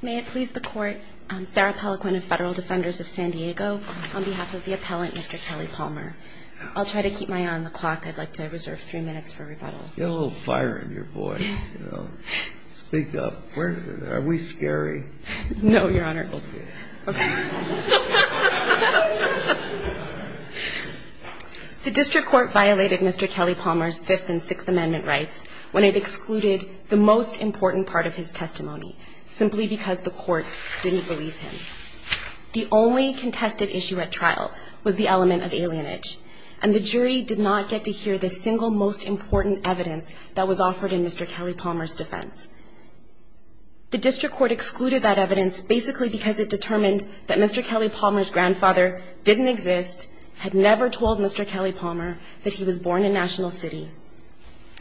May it please the Court, I'm Sarah Pelliquin of Federal Defenders of San Diego. On behalf of the appellant, Mr. Kelly-Palmer, I'll try to keep my eye on the clock. I'd like to reserve three minutes for rebuttal. You have a little fire in your voice. Speak up. Are we scary? No, Your Honor. Okay. The District Court violated Mr. Kelly-Palmer's Fifth and Sixth Amendment rights when it excluded the most important part of his testimony, simply because the Court didn't believe him. The only contested issue at trial was the element of alienage, and the jury did not get to hear the single most important evidence that was offered in Mr. Kelly-Palmer's defense. The District Court excluded that evidence basically because it determined that Mr. Kelly-Palmer's grandfather didn't exist, had never told Mr. Kelly-Palmer that he was born in National City,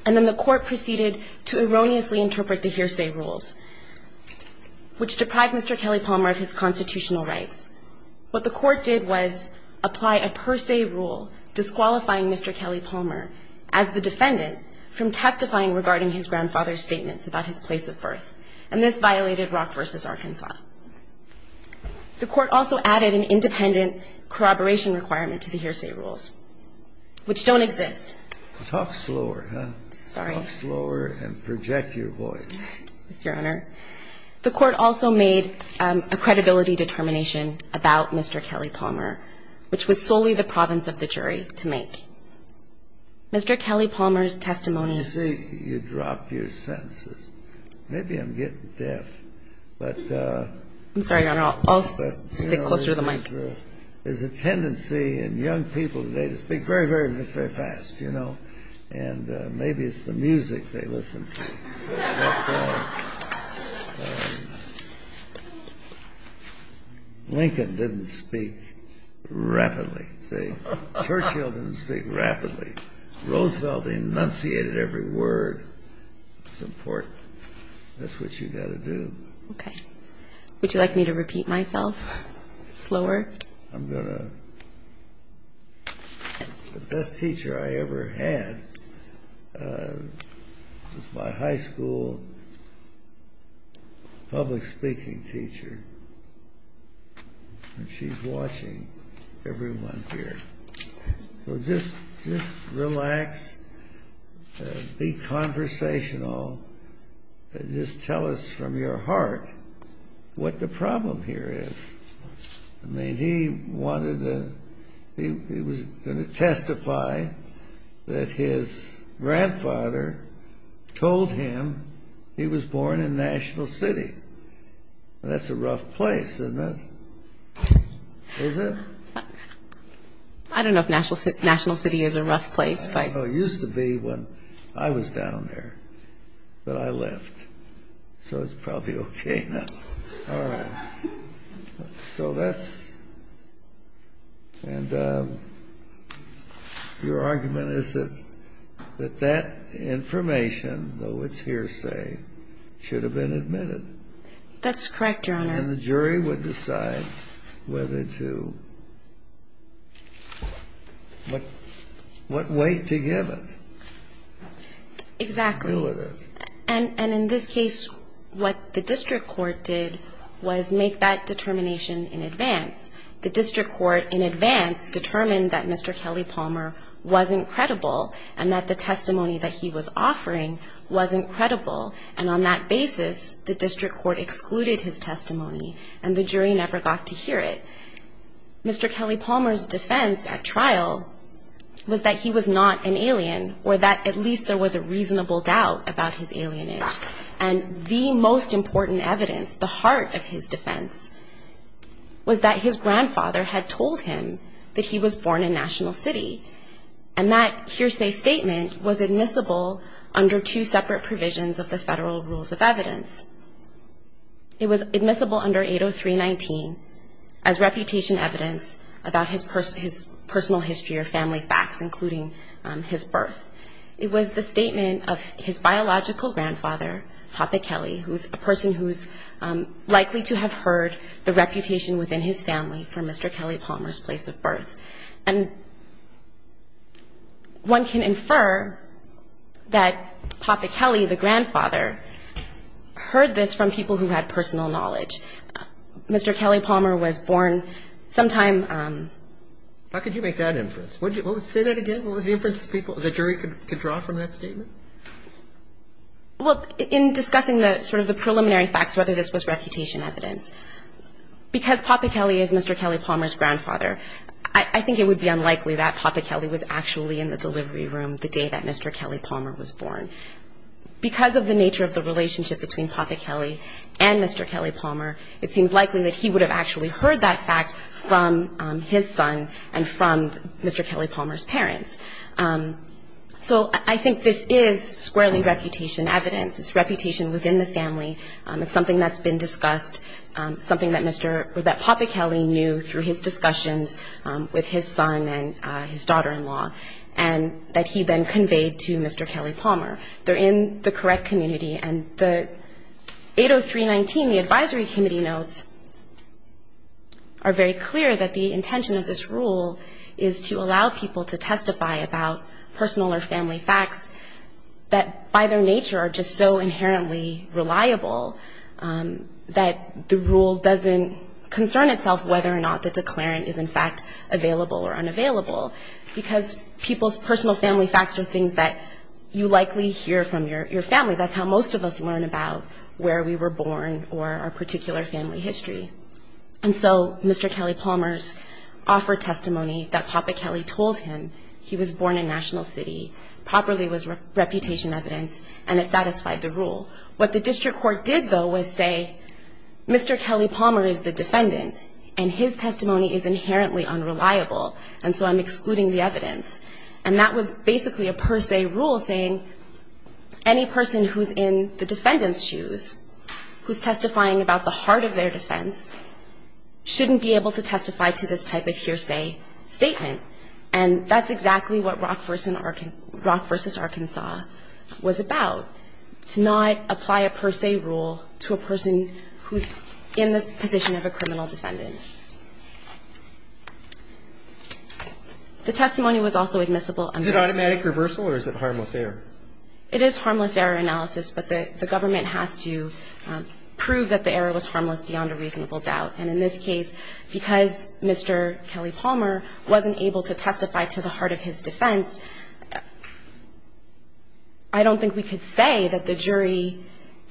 and then the Court proceeded to erroneously interpret the hearsay rules, which deprived Mr. Kelly-Palmer of his constitutional rights. What the Court did was apply a per se rule disqualifying Mr. Kelly-Palmer as the defendant from testifying regarding his grandfather's statements about his place of birth, and this violated Rock v. Arkansas. The Court also added an independent corroboration requirement to the hearsay rules, which don't exist. Talk slower, huh? Sorry. Talk slower and project your voice. Yes, Your Honor. The Court also made a credibility determination about Mr. Kelly-Palmer, which was solely the province of the jury to make. Mr. Kelly-Palmer's testimony ---- You see, you dropped your sentences. Maybe I'm getting deaf, but ---- I'm sorry, Your Honor. I'll sit closer to the mic. There's a tendency in young people today to speak very, very fast, you know, and maybe it's the music they listen to. Lincoln didn't speak rapidly, see? Churchill didn't speak rapidly. Roosevelt enunciated every word. It's important. That's what you've got to do. Okay. Would you like me to repeat myself slower? I'm going to. The best teacher I ever had was my high school public speaking teacher, and she's watching everyone here. So just relax, be conversational, and just tell us from your heart what the problem here is. I mean, he wanted to ---- He was going to testify that his grandfather told him he was born in National City. That's a rough place, isn't it? Is it? I don't know if National City is a rough place, but ---- It used to be when I was down there, but I left, so it's probably okay now. All right. So that's ---- And your argument is that that information, though it's hearsay, should have been admitted. That's correct, Your Honor. And the jury would decide whether to ---- what way to give it. Exactly. And in this case, what the district court did was make that determination in advance. The district court in advance determined that Mr. Kelly Palmer wasn't credible and that the testimony that he was offering wasn't credible, and on that basis, the district court excluded his testimony, and the jury never got to hear it. Mr. Kelly Palmer's defense at trial was that he was not an alien or that at least there was a reasonable doubt about his alienage. And the most important evidence, the heart of his defense, was that his grandfather had told him that he was born in National City, and that hearsay statement was admissible under two separate provisions of the Federal Rules of Evidence. It was admissible under 803.19 as reputation evidence about his personal history or family facts, including his birth. It was the statement of his biological grandfather, Hoppe Kelly, who is a person who is likely to have heard the reputation within his family for Mr. Kelly Palmer's place of birth. And one can infer that Hoppe Kelly, the grandfather, heard this from people who had personal knowledge. Mr. Kelly Palmer was born sometime ‑‑ How could you make that inference? Say that again. What was the inference the jury could draw from that statement? Well, in discussing the sort of the preliminary facts, whether this was reputation evidence, because Hoppe Kelly is Mr. Kelly Palmer's grandfather, I think it would be unlikely that Hoppe Kelly was actually in the delivery room the day that Mr. Kelly Palmer was born. Because of the nature of the relationship between Hoppe Kelly and Mr. Kelly Palmer, it seems likely that he would have actually heard that fact from his son and from Mr. Kelly Palmer's parents. So I think this is squarely reputation evidence. It's reputation within the family. It's something that's been discussed, something that Mr. ‑‑ or that Hoppe Kelly knew through his discussions with his son and his daughter‑in‑law, and that he then conveyed to Mr. Kelly Palmer. They're in the correct community. And the 80319, the advisory committee notes, are very clear that the intention of this rule is to allow people to testify about personal or family facts that by their nature are just so inherently reliable that the rule doesn't concern itself whether or not the declarant is in fact available or unavailable. Because people's personal family facts are things that you likely hear from your family. That's how most of us learn about where we were born or our particular family history. And so Mr. Kelly Palmer's offered testimony that Hoppe Kelly told him he was born in National City, properly was reputation evidence, and it satisfied the rule. What the district court did, though, was say Mr. Kelly Palmer is the defendant and his testimony is inherently unreliable, and so I'm excluding the evidence. And that was basically a per se rule saying any person who's in the defendant's shoes, who's testifying about the heart of their defense, shouldn't be able to testify to this type of hearsay statement. And that's exactly what Rock v. Arkansas was about, to not apply a per se rule to a person who's in the position of a criminal defendant. The testimony was also admissible. Is it automatic reversal or is it harmless error? It is harmless error analysis, but the government has to prove that the error was harmless beyond a reasonable doubt. And in this case, because Mr. Kelly Palmer wasn't able to testify to the heart of his defense, I don't think we could say that the jury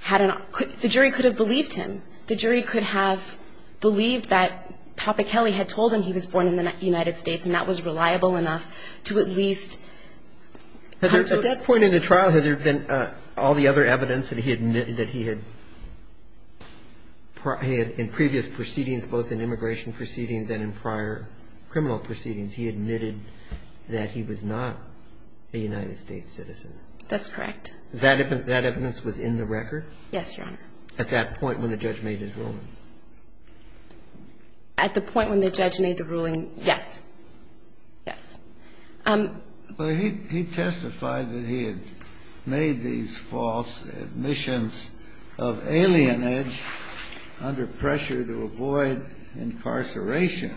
had an – the jury could have believed him. The jury could have believed that Hoppe Kelly had told him he was born in the United States, and that was reliable enough to at least come to a conclusion. In the evidence that he admitted that he had – in previous proceedings, both in immigration proceedings and in prior criminal proceedings, he admitted that he was not a United States citizen. That's correct. That evidence was in the record? Yes, Your Honor. At that point when the judge made his ruling? At the point when the judge made the ruling, yes. Yes. But he testified that he had made these false admissions of alienage under pressure to avoid incarceration.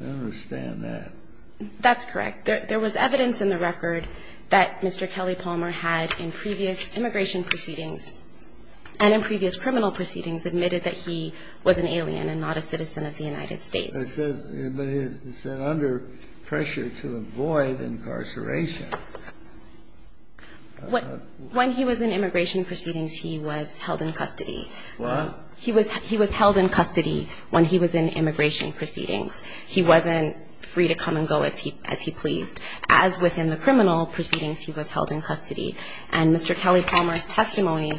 I understand that. That's correct. There was evidence in the record that Mr. Kelly Palmer had in previous immigration proceedings and in previous criminal proceedings admitted that he was an alien and not a citizen of the United States. But it says under pressure to avoid incarceration. When he was in immigration proceedings, he was held in custody. What? He was held in custody when he was in immigration proceedings. He wasn't free to come and go as he pleased. As within the criminal proceedings, he was held in custody. And Mr. Kelly Palmer's testimony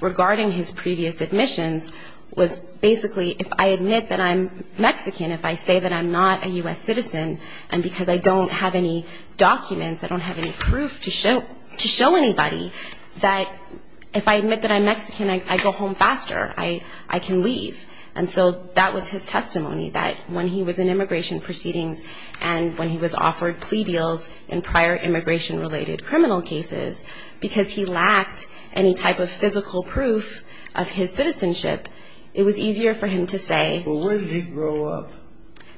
regarding his previous admissions was basically if I admit that I'm Mexican, if I say that I'm not a U.S. citizen, and because I don't have any documents, I don't have any proof to show anybody, that if I admit that I'm Mexican, I go home faster. I can leave. And so that was his testimony, that when he was in immigration proceedings and when he was offered plea deals in prior immigration-related criminal cases, because he lacked any type of physical proof of his citizenship, it was easier for him to say. Well, where did he grow up?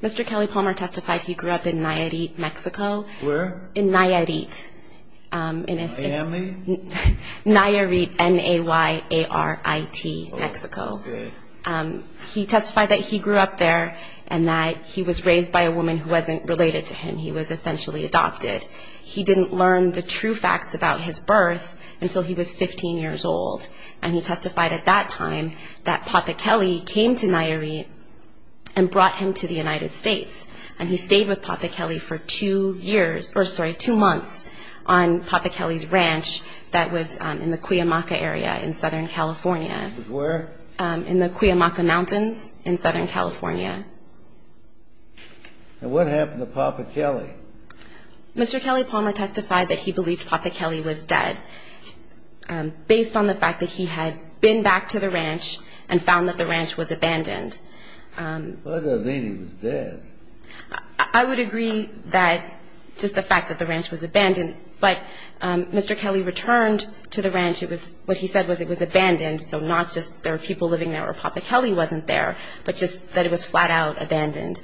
Mr. Kelly Palmer testified he grew up in Nayarit, Mexico. Where? In Nayarit. My family? Nayarit, N-A-Y-A-R-I-T, Mexico. Okay. He testified that he grew up there and that he was raised by a woman who wasn't related to him. He was essentially adopted. He didn't learn the true facts about his birth until he was 15 years old. And he testified at that time that Papa Kelly came to Nayarit and brought him to the United States, and he stayed with Papa Kelly for two years or, sorry, two months on Papa Kelly's ranch that was in the Cuyamaca area in Southern California. Where? In the Cuyamaca Mountains in Southern California. And what happened to Papa Kelly? Mr. Kelly Palmer testified that he believed Papa Kelly was dead. Based on the fact that he had been back to the ranch and found that the ranch was abandoned. Papa Kelly was dead. I would agree that just the fact that the ranch was abandoned. But Mr. Kelly returned to the ranch. What he said was it was abandoned, so not just there were people living there where Papa Kelly wasn't there, but just that it was flat-out abandoned.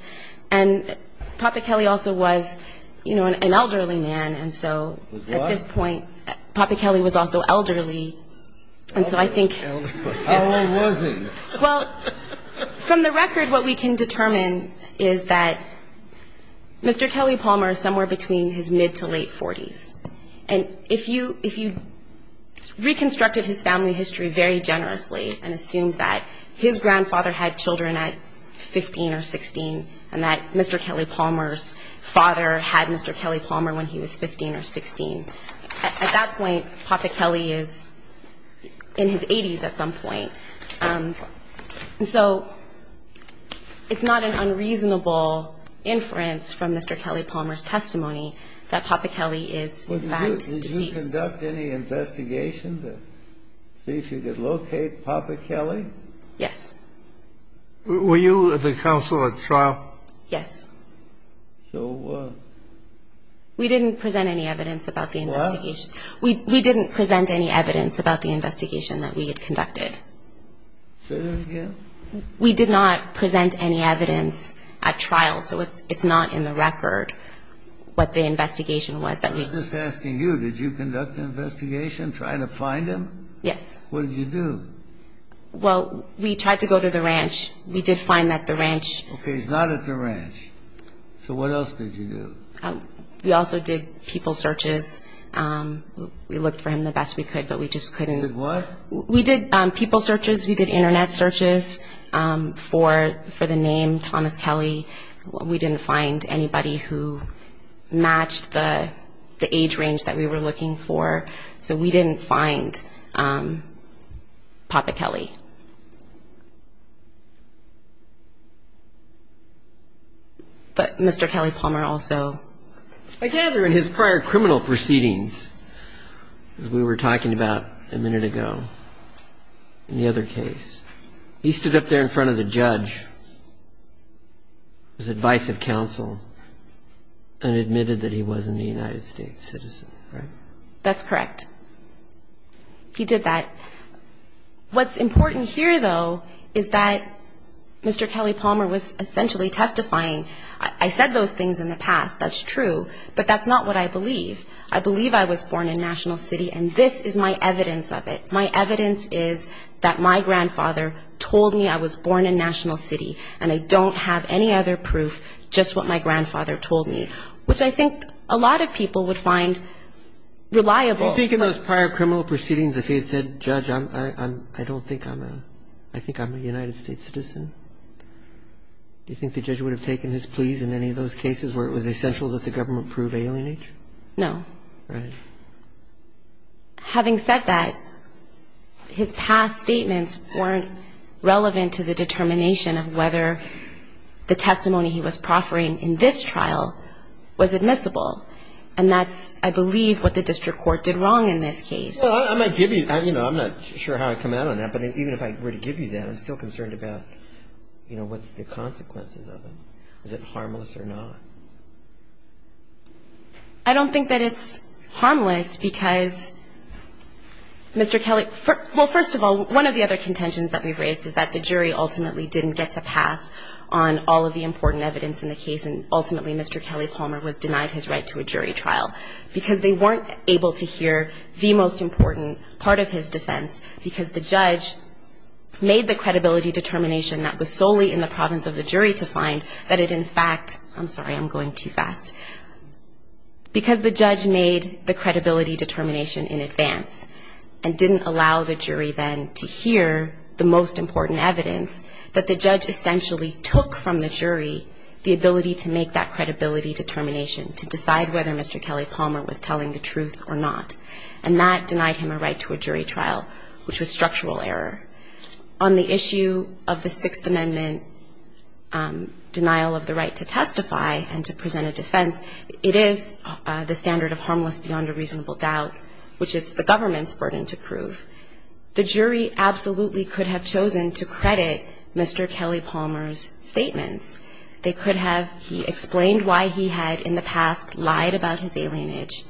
And Papa Kelly also was, you know, an elderly man. Was what? At this point, Papa Kelly was also elderly, and so I think. How old was he? Well, from the record, what we can determine is that Mr. Kelly Palmer is somewhere between his mid- to late-40s. And if you reconstructed his family history very generously and assumed that his grandfather had children at 15 or 16, and that Mr. Kelly Palmer's father had Mr. Kelly Palmer when he was 15 or 16, at that point, Papa Kelly is in his 80s at some point. And so it's not an unreasonable inference from Mr. Kelly Palmer's testimony that Papa Kelly is in fact deceased. Did you conduct any investigations to see if you could locate Papa Kelly? Yes. Were you at the council at trial? Yes. So what? We didn't present any evidence about the investigation. What? We didn't present any evidence about the investigation that we had conducted. Say that again? We did not present any evidence at trial, so it's not in the record what the investigation was that we... I'm just asking you, did you conduct an investigation trying to find him? Yes. What did you do? Well, we tried to go to the ranch. We did find that the ranch... Okay, he's not at the ranch. So what else did you do? We also did people searches. We looked for him the best we could, but we just couldn't. You did what? We did people searches. We did Internet searches for the name Thomas Kelly. We didn't find anybody who matched the age range that we were looking for. So we didn't find Papa Kelly. But Mr. Kelly Palmer also... I gather in his prior criminal proceedings, as we were talking about a minute ago, in the other case, he stood up there in front of the judge, his advice of counsel, and admitted that he wasn't a United States citizen, right? That's correct. He did that. What's important here, though, is that Mr. Kelly Palmer was essentially testifying. I said those things in the past, that's true, but that's not what I believe. I believe I was born in National City, and this is my evidence of it. My evidence is that my grandfather told me I was born in National City, and I don't have any other proof, just what my grandfather told me, which I think a lot of people would find reliable. Do you think in those prior criminal proceedings, if he had said, Judge, I don't think I'm a... I think I'm a United States citizen, do you think the judge would have taken his pleas in any of those cases where it was essential that the government prove alienage? No. Right. Having said that, his past statements weren't relevant to the determination of whether the testimony he was proffering in this trial was admissible, and that's, I believe, what the district court did wrong in this case. Well, I might give you... You know, I'm not sure how I come out on that, but even if I were to give you that, I'm still concerned about, you know, what's the consequences of it. Is it harmless or not? I don't think that it's harmless because Mr. Kelly... ultimately didn't get to pass on all of the important evidence in the case, and ultimately Mr. Kelly Palmer was denied his right to a jury trial because they weren't able to hear the most important part of his defense because the judge made the credibility determination that was solely in the province of the jury to find that it in fact... I'm sorry, I'm going too fast. Because the judge made the credibility determination in advance and didn't allow the jury then to hear the most important evidence that the judge essentially took from the jury the ability to make that credibility determination to decide whether Mr. Kelly Palmer was telling the truth or not, and that denied him a right to a jury trial, which was structural error. On the issue of the Sixth Amendment denial of the right to testify and to present a defense, it is the standard of harmless beyond a reasonable doubt, which is the government's burden to prove. The jury absolutely could have chosen to credit Mr. Kelly Palmer's statements. They could have... He explained why he had in the past lied about his alienage,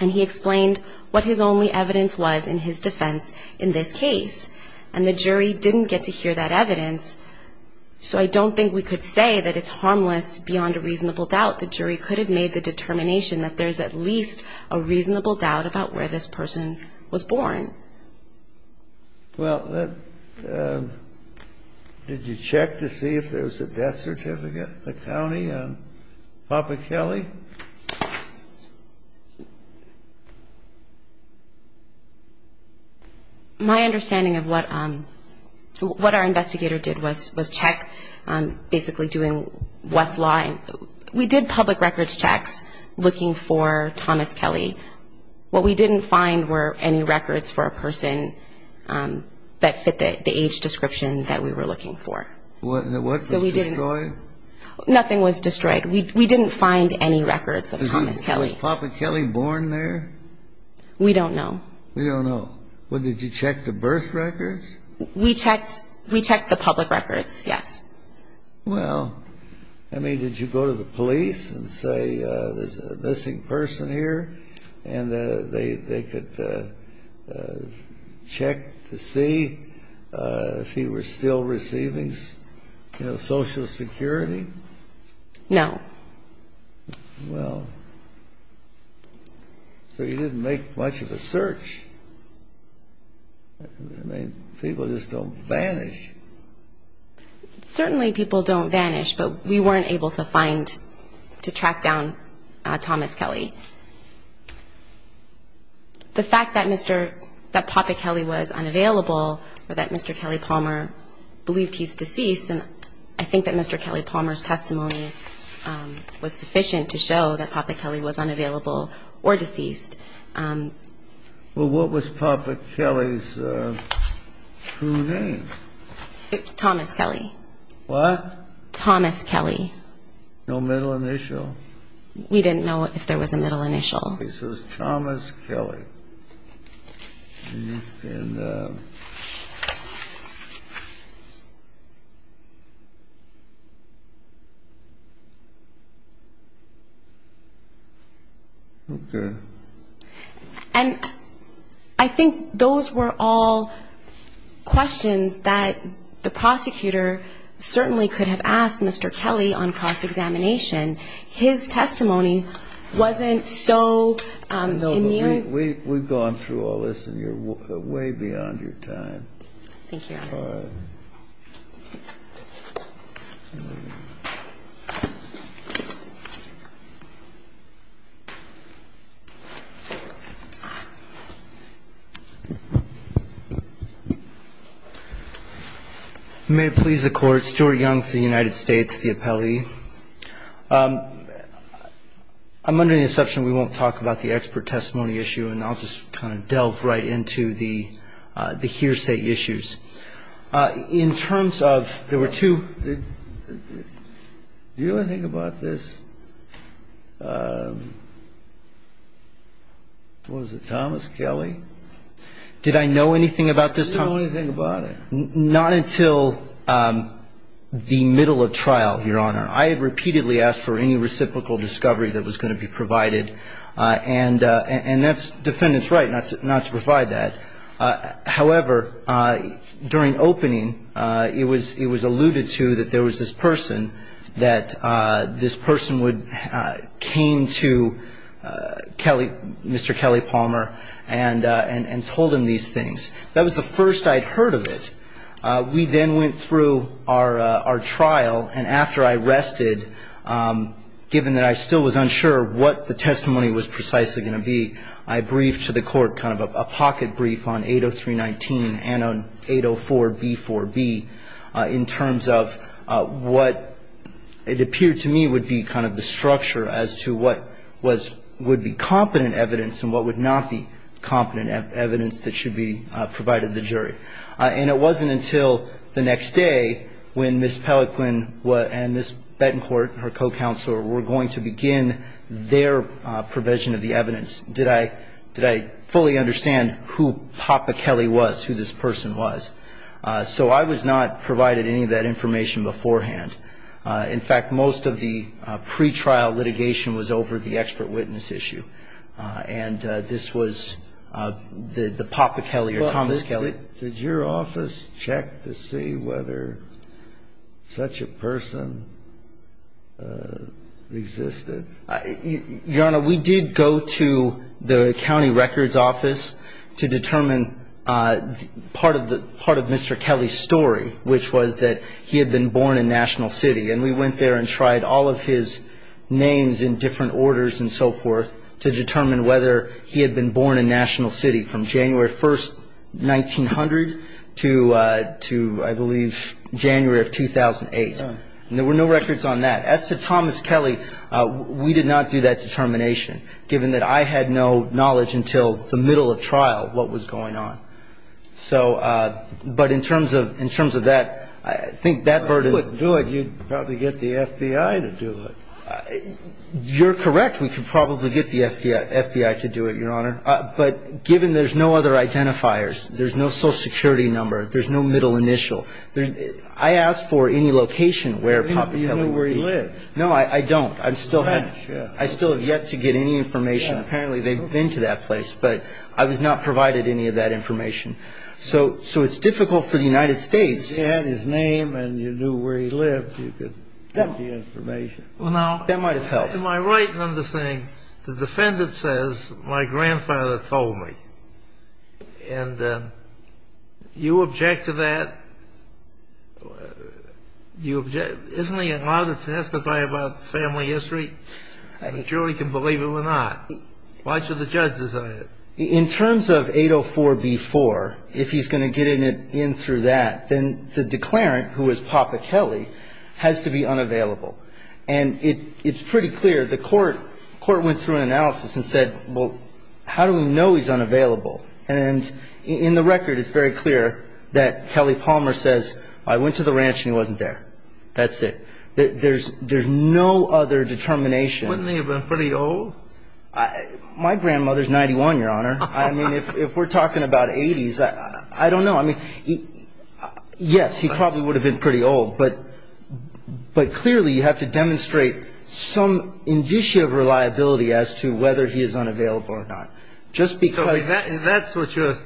and he explained what his only evidence was in his defense in this case, and the jury didn't get to hear that evidence, so I don't think we could say that it's harmless beyond a reasonable doubt. The jury could have made the determination that there's at least a reasonable doubt about where this person was born. Well, did you check to see if there was a death certificate in the county on Papa Kelly? My understanding of what our investigator did was check, basically doing Westline. We did public records checks looking for Thomas Kelly. What we didn't find were any records for a person that fit the age description that we were looking for. What was destroyed? Nothing was destroyed. We didn't find any records of Thomas Kelly. Was Papa Kelly born there? We don't know. We don't know. Well, did you check the birth records? We checked the public records, yes. Well, I mean, did you go to the police and say there's a missing person here, and they could check to see if he was still receiving, you know, Social Security? No. Well, so you didn't make much of a search. I mean, people just don't vanish. Certainly people don't vanish, but we weren't able to find, to track down Thomas Kelly. The fact that Papa Kelly was unavailable or that Mr. Kelly Palmer believed he's deceased, and I think that Mr. Kelly Palmer's testimony was sufficient to show that Papa Kelly was unavailable or deceased. Well, what was Papa Kelly's true name? Thomas Kelly. What? Thomas Kelly. No middle initial? We didn't know if there was a middle initial. So it's Thomas Kelly. I'm sorry. You can. Okay. And I think those were all questions that the prosecutor certainly could have asked Mr. Kelly on cross-examination. His testimony wasn't so immune. We've gone through all this, and you're way beyond your time. Thank you, Your Honor. All right. May it please the Court. Stuart Young with the United States, the appellee. I'm under the assumption we won't talk about the expert testimony issue, and I'll just kind of delve right into the hearsay issues. In terms of there were two. Do you know anything about this? Was it Thomas Kelly? Did I know anything about this? Did you know anything about it? Not until the middle of trial, Your Honor. I had repeatedly asked for any reciprocal discovery that was going to be provided, and that's defendant's right not to provide that. However, during opening, it was alluded to that there was this person, that this person came to Mr. Kelly Palmer and told him these things. That was the first I'd heard of it. We then went through our trial, and after I rested, given that I still was unsure what the testimony was precisely going to be, I briefed to the Court kind of a pocket brief on 80319 and on 804B4B in terms of what it appeared to me would be kind of the structure as to what would be competent evidence and what would not be competent evidence that should be provided to the jury. And it wasn't until the next day when Ms. Pelequin and Ms. Betancourt, her co-counselor, were going to begin their provision of the evidence did I fully understand who Papa Kelly was, who this person was. So I was not provided any of that information beforehand. In fact, most of the pretrial litigation was over the expert witness issue, and this was the Papa Kelly or Thomas Kelly. Did your office check to see whether such a person existed? Your Honor, we did go to the county records office to determine part of Mr. Kelly's story, which was that he had been born in National City. And we went there and tried all of his names in different orders and so forth to determine whether he had been born in National City from January 1st, 1900 to, I believe, January of 2008. And there were no records on that. As to Thomas Kelly, we did not do that determination, given that I had no knowledge until the middle of trial what was going on. So but in terms of that, I think that burden of ---- If you couldn't do it, you'd probably get the FBI to do it. You're correct. We could probably get the FBI to do it, Your Honor. But given there's no other identifiers, there's no Social Security number, there's no middle initial, I asked for any location where Papa Kelly ---- Do you know where he lived? No, I don't. I still have yet to get any information. Apparently, they've been to that place. But I was not provided any of that information. So it's difficult for the United States ---- If you had his name and you knew where he lived, you could get the information. Well, now ---- That might have helped. Am I right in understanding the defendant says, my grandfather told me? And you object to that? Isn't he allowed to testify about family history? The jury can believe it or not. Why should the judge decide it? In terms of 804b-4, if he's going to get in through that, then the declarant, who is Papa Kelly, has to be unavailable. And it's pretty clear, the court went through an analysis and said, well, how do we know he's unavailable? And in the record, it's very clear that Kelly Palmer says, I went to the ranch and he wasn't there. That's it. There's no other determination. Wouldn't he have been pretty old? My grandmother's 91, Your Honor. I mean, if we're talking about 80s, I don't know. I mean, yes, he probably would have been pretty old. But clearly, you have to demonstrate some indicia of reliability as to whether he is unavailable or not. Just because. That's what your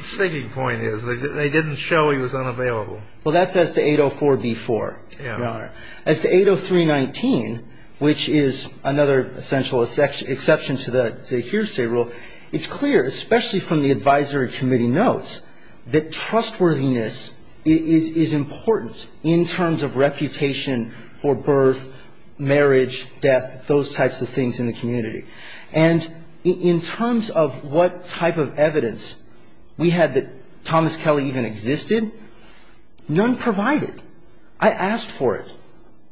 thinking point is. They didn't show he was unavailable. Well, that's as to 804b-4, Your Honor. As to 803-19, which is another essential exception to the hearsay rule, it's clear, especially from the advisory committee notes, that trustworthiness is important in terms of reputation for birth, marriage, death, those types of things in the community. And in terms of what type of evidence we had that Thomas Kelly even existed, none provided. I asked for it.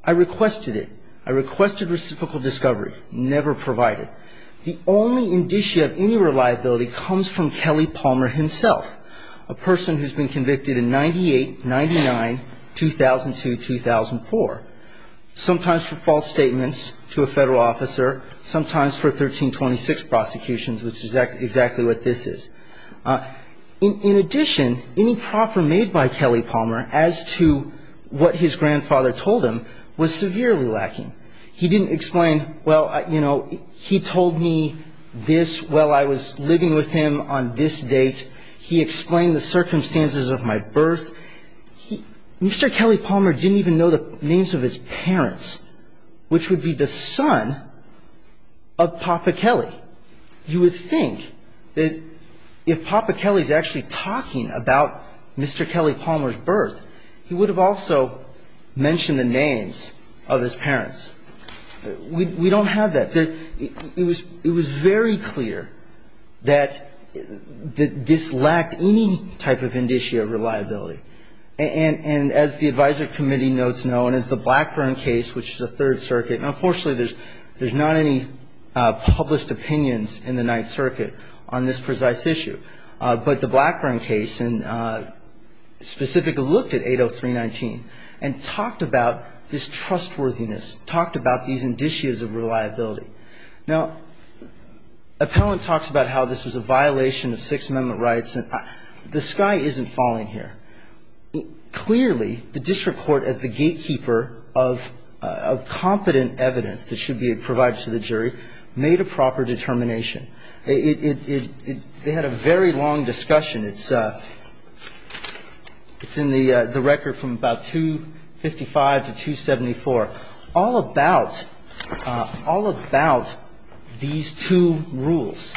I requested it. I requested reciprocal discovery. Never provided. The only indicia of any reliability comes from Kelly Palmer himself, a person who's been convicted in 98, 99, 2002, 2004, sometimes for false statements to a federal officer, sometimes for 1326 prosecutions, which is exactly what this is. In addition, any proffer made by Kelly Palmer as to what his grandfather told him was severely lacking. He didn't explain, well, you know, he told me this while I was living with him on this date. He explained the circumstances of my birth. Mr. Kelly Palmer didn't even know the names of his parents, which would be the son of Papa Kelly. You would think that if Papa Kelly's actually talking about Mr. Kelly Palmer's birth, he would have also mentioned the names of his parents. We don't have that. It was very clear that this lacked any type of indicia of reliability. And as the Advisory Committee notes, no, and as the Blackburn case, which is a Third Circuit, and unfortunately there's not any published opinions in the Ninth Circuit on this precise issue. But the Blackburn case specifically looked at 803.19 and talked about this trustworthiness, talked about these indicias of reliability. Now, Appellant talks about how this was a violation of Sixth Amendment rights. The sky isn't falling here. Clearly, the district court, as the gatekeeper of competent evidence that should be provided to the jury, made a proper determination. It had a very long discussion. It's in the record from about 255 to 274, all about these two rules.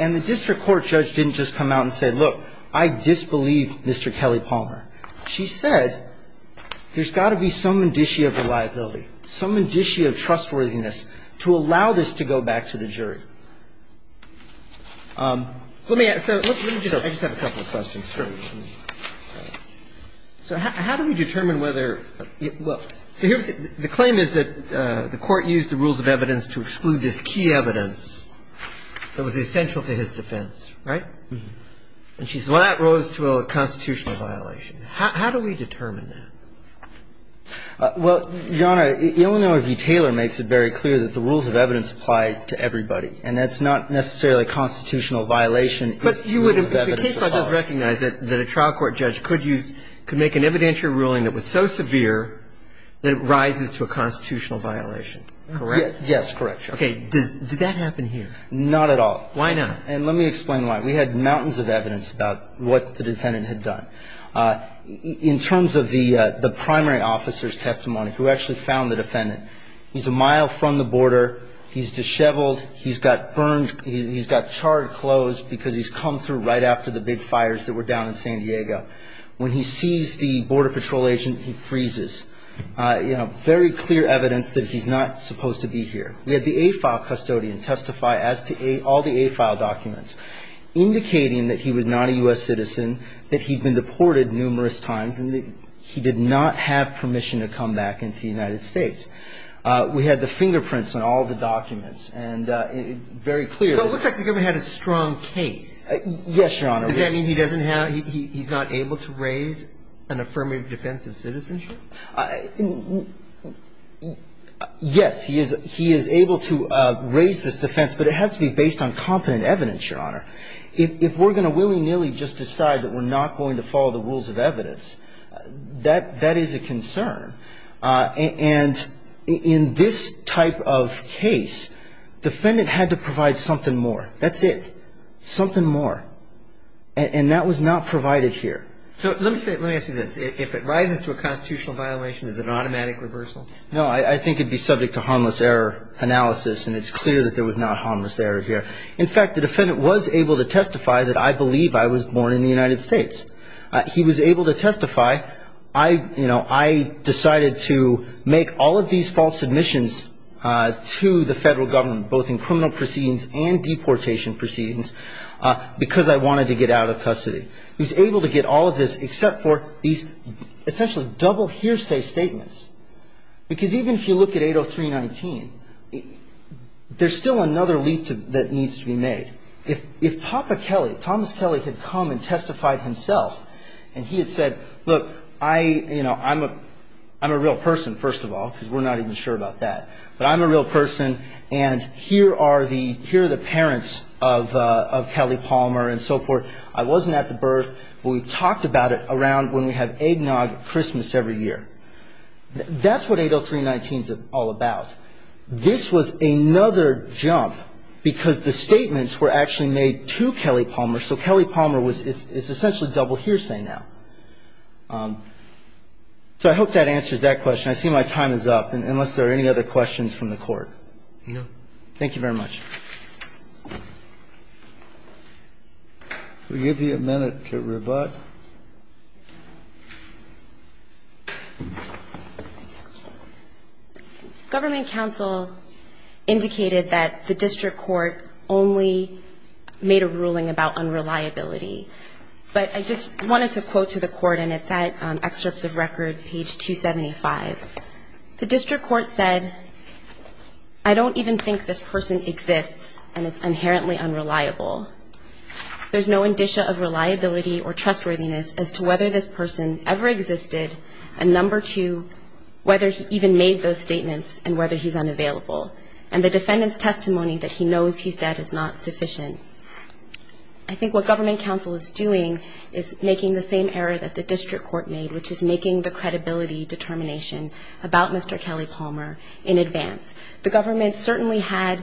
And the district court judge didn't just come out and say, look, I disbelieve Mr. Kelly Palmer. She said there's got to be some indicia of reliability, some indicia of trustworthiness to allow this to go back to the jury. Let me ask you, I just have a couple of questions. So how do we determine whether, well, the claim is that the Court used the rules of evidence to exclude this key evidence that was essential to his defense, right? And she said, well, that rose to a constitutional violation. How do we determine that? Well, Your Honor, Illinois v. Taylor makes it very clear that the rules of evidence apply to everybody, and that's not necessarily a constitutional violation if we have evidence of fault. But you would in the case law just recognize that a trial court judge could use, could make an evidentiary ruling that was so severe that it rises to a constitutional violation, correct? Yes, correct, Your Honor. Okay. Does that happen here? Not at all. Why not? And let me explain why. We had mountains of evidence about what the defendant had done. He's got charred clothes because he's come through right after the big fires that were down in San Diego. When he sees the Border Patrol agent, he freezes, you know, very clear evidence that he's not supposed to be here. We had the A-file custodian testify as to all the A-file documents, indicating that he was not a U.S. citizen, that he'd been deported numerous times, and that he did not have permission to come back into the United States. We had the fingerprints on all the documents, and very clear. So it looks like the government had a strong case. Yes, Your Honor. Does that mean he doesn't have, he's not able to raise an affirmative defense of citizenship? Yes, he is able to raise this defense, but it has to be based on competent evidence, Your Honor. If we're going to willy-nilly just decide that we're not going to follow the rules of evidence, that is a concern. And in this type of case, defendant had to provide something more. That's it. Something more. And that was not provided here. So let me say, let me ask you this. If it rises to a constitutional violation, is it an automatic reversal? No, I think it would be subject to harmless error analysis, and it's clear that there was not harmless error here. In fact, the defendant was able to testify that I believe I was born in the United States. He was able to testify, you know, I decided to make all of these false admissions to the federal government, both in criminal proceedings and deportation proceedings, because I wanted to get out of custody. He was able to get all of this except for these essentially double hearsay statements. Because even if you look at 803.19, there's still another leap that needs to be made. If Papa Kelly, Thomas Kelly, had come and testified himself, and he had said, look, I'm a real person, first of all, because we're not even sure about that. But I'm a real person, and here are the parents of Kelly Palmer and so forth. I wasn't at the birth, but we talked about it around when we have eggnog at Christmas every year. That's what 803.19 is all about. This was another jump, because the statements were actually made to Kelly Palmer, so Kelly Palmer was its essentially double hearsay now. So I hope that answers that question. I see my time is up, unless there are any other questions from the Court. Thank you very much. We'll give you a minute to rebut. Thank you. Government counsel indicated that the district court only made a ruling about unreliability. But I just wanted to quote to the court, and it's at excerpts of record, page 275. The district court said, I don't even think this person exists, and it's inherently unreliable. There's no indicia of reliability or trustworthiness as to whether this person ever existed, and number two, whether he even made those statements and whether he's unavailable. And the defendant's testimony that he knows he's dead is not sufficient. I think what government counsel is doing is making the same error that the district court made, which is making the credibility determination about Mr. Kelly Palmer in advance. The government certainly had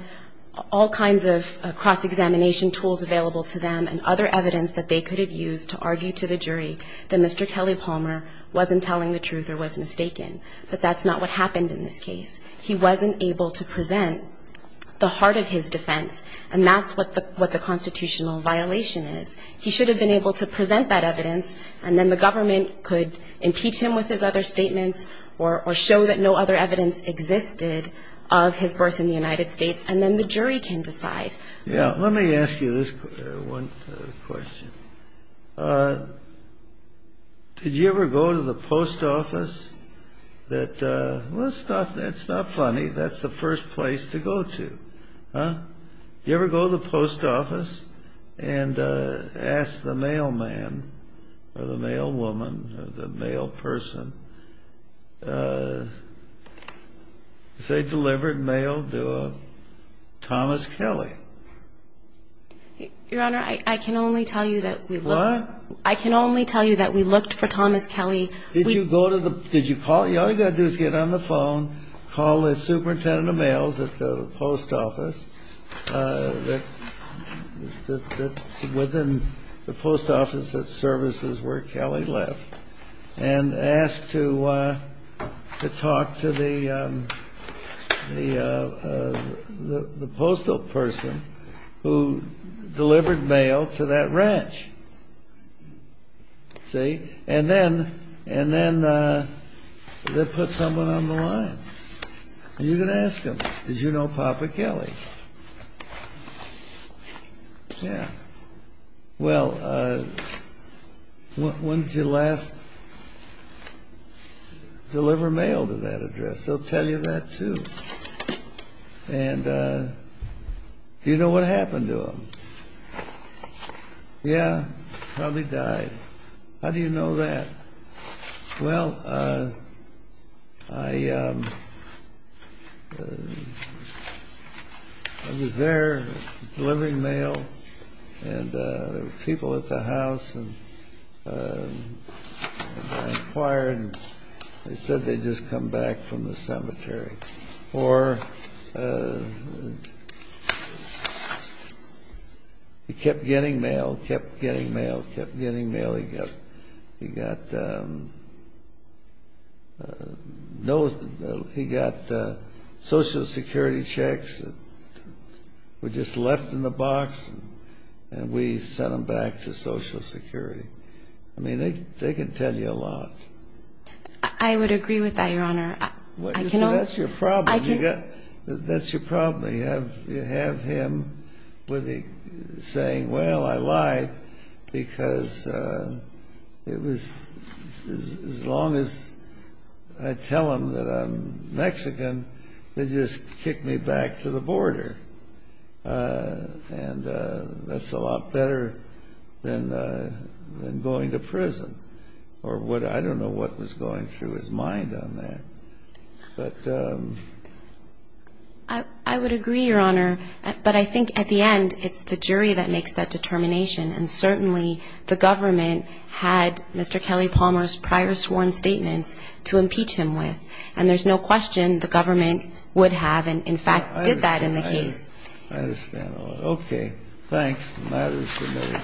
all kinds of cross-examination tools available to them and other evidence that they could have used to argue to the jury that Mr. Kelly Palmer wasn't telling the truth or was mistaken, but that's not what happened in this case. He wasn't able to present the heart of his defense, and that's what the constitutional violation is. He should have been able to present that evidence, and then the government could impeach him with his other statements or show that no other evidence existed of his birth in the United States, and then the jury can decide. Yeah. Let me ask you this one question. Did you ever go to the post office that, well, that's not funny. That's the first place to go to, huh? You ever go to the post office and ask the mailman or the mailwoman or the mailperson, if they delivered mail to Thomas Kelly? Your Honor, I can only tell you that we looked for Thomas Kelly. Did you call? All you've got to do is get on the phone, call the superintendent of mails at the post office that's within the post office that services where Kelly left, and ask to talk to the postal person who delivered mail to that ranch. See? And then they'll put someone on the line, and you can ask them, did you know Papa Kelly? Yeah. Well, when did you last deliver mail to that address? They'll tell you that, too. And do you know what happened to him? Yeah, probably died. How do you know that? Well, I was there delivering mail, and there were people at the house, and I inquired, and they said they'd just come back from the cemetery. Or he kept getting mail, kept getting mail, kept getting mail. He got Social Security checks that were just left in the box, and we sent them back to Social Security. I mean, they can tell you a lot. I would agree with that, Your Honor. So that's your problem. That's your problem. You have him saying, well, I lied because it was as long as I tell him that I'm Mexican, they just kick me back to the border. And that's a lot better than going to prison. I don't know what was going through his mind on that. I would agree, Your Honor, but I think at the end it's the jury that makes that determination, and certainly the government had Mr. Kelly Palmer's prior sworn statements to impeach him with, and there's no question the government would have and, in fact, did that in the case. I understand. Okay. Thanks. That is the matter.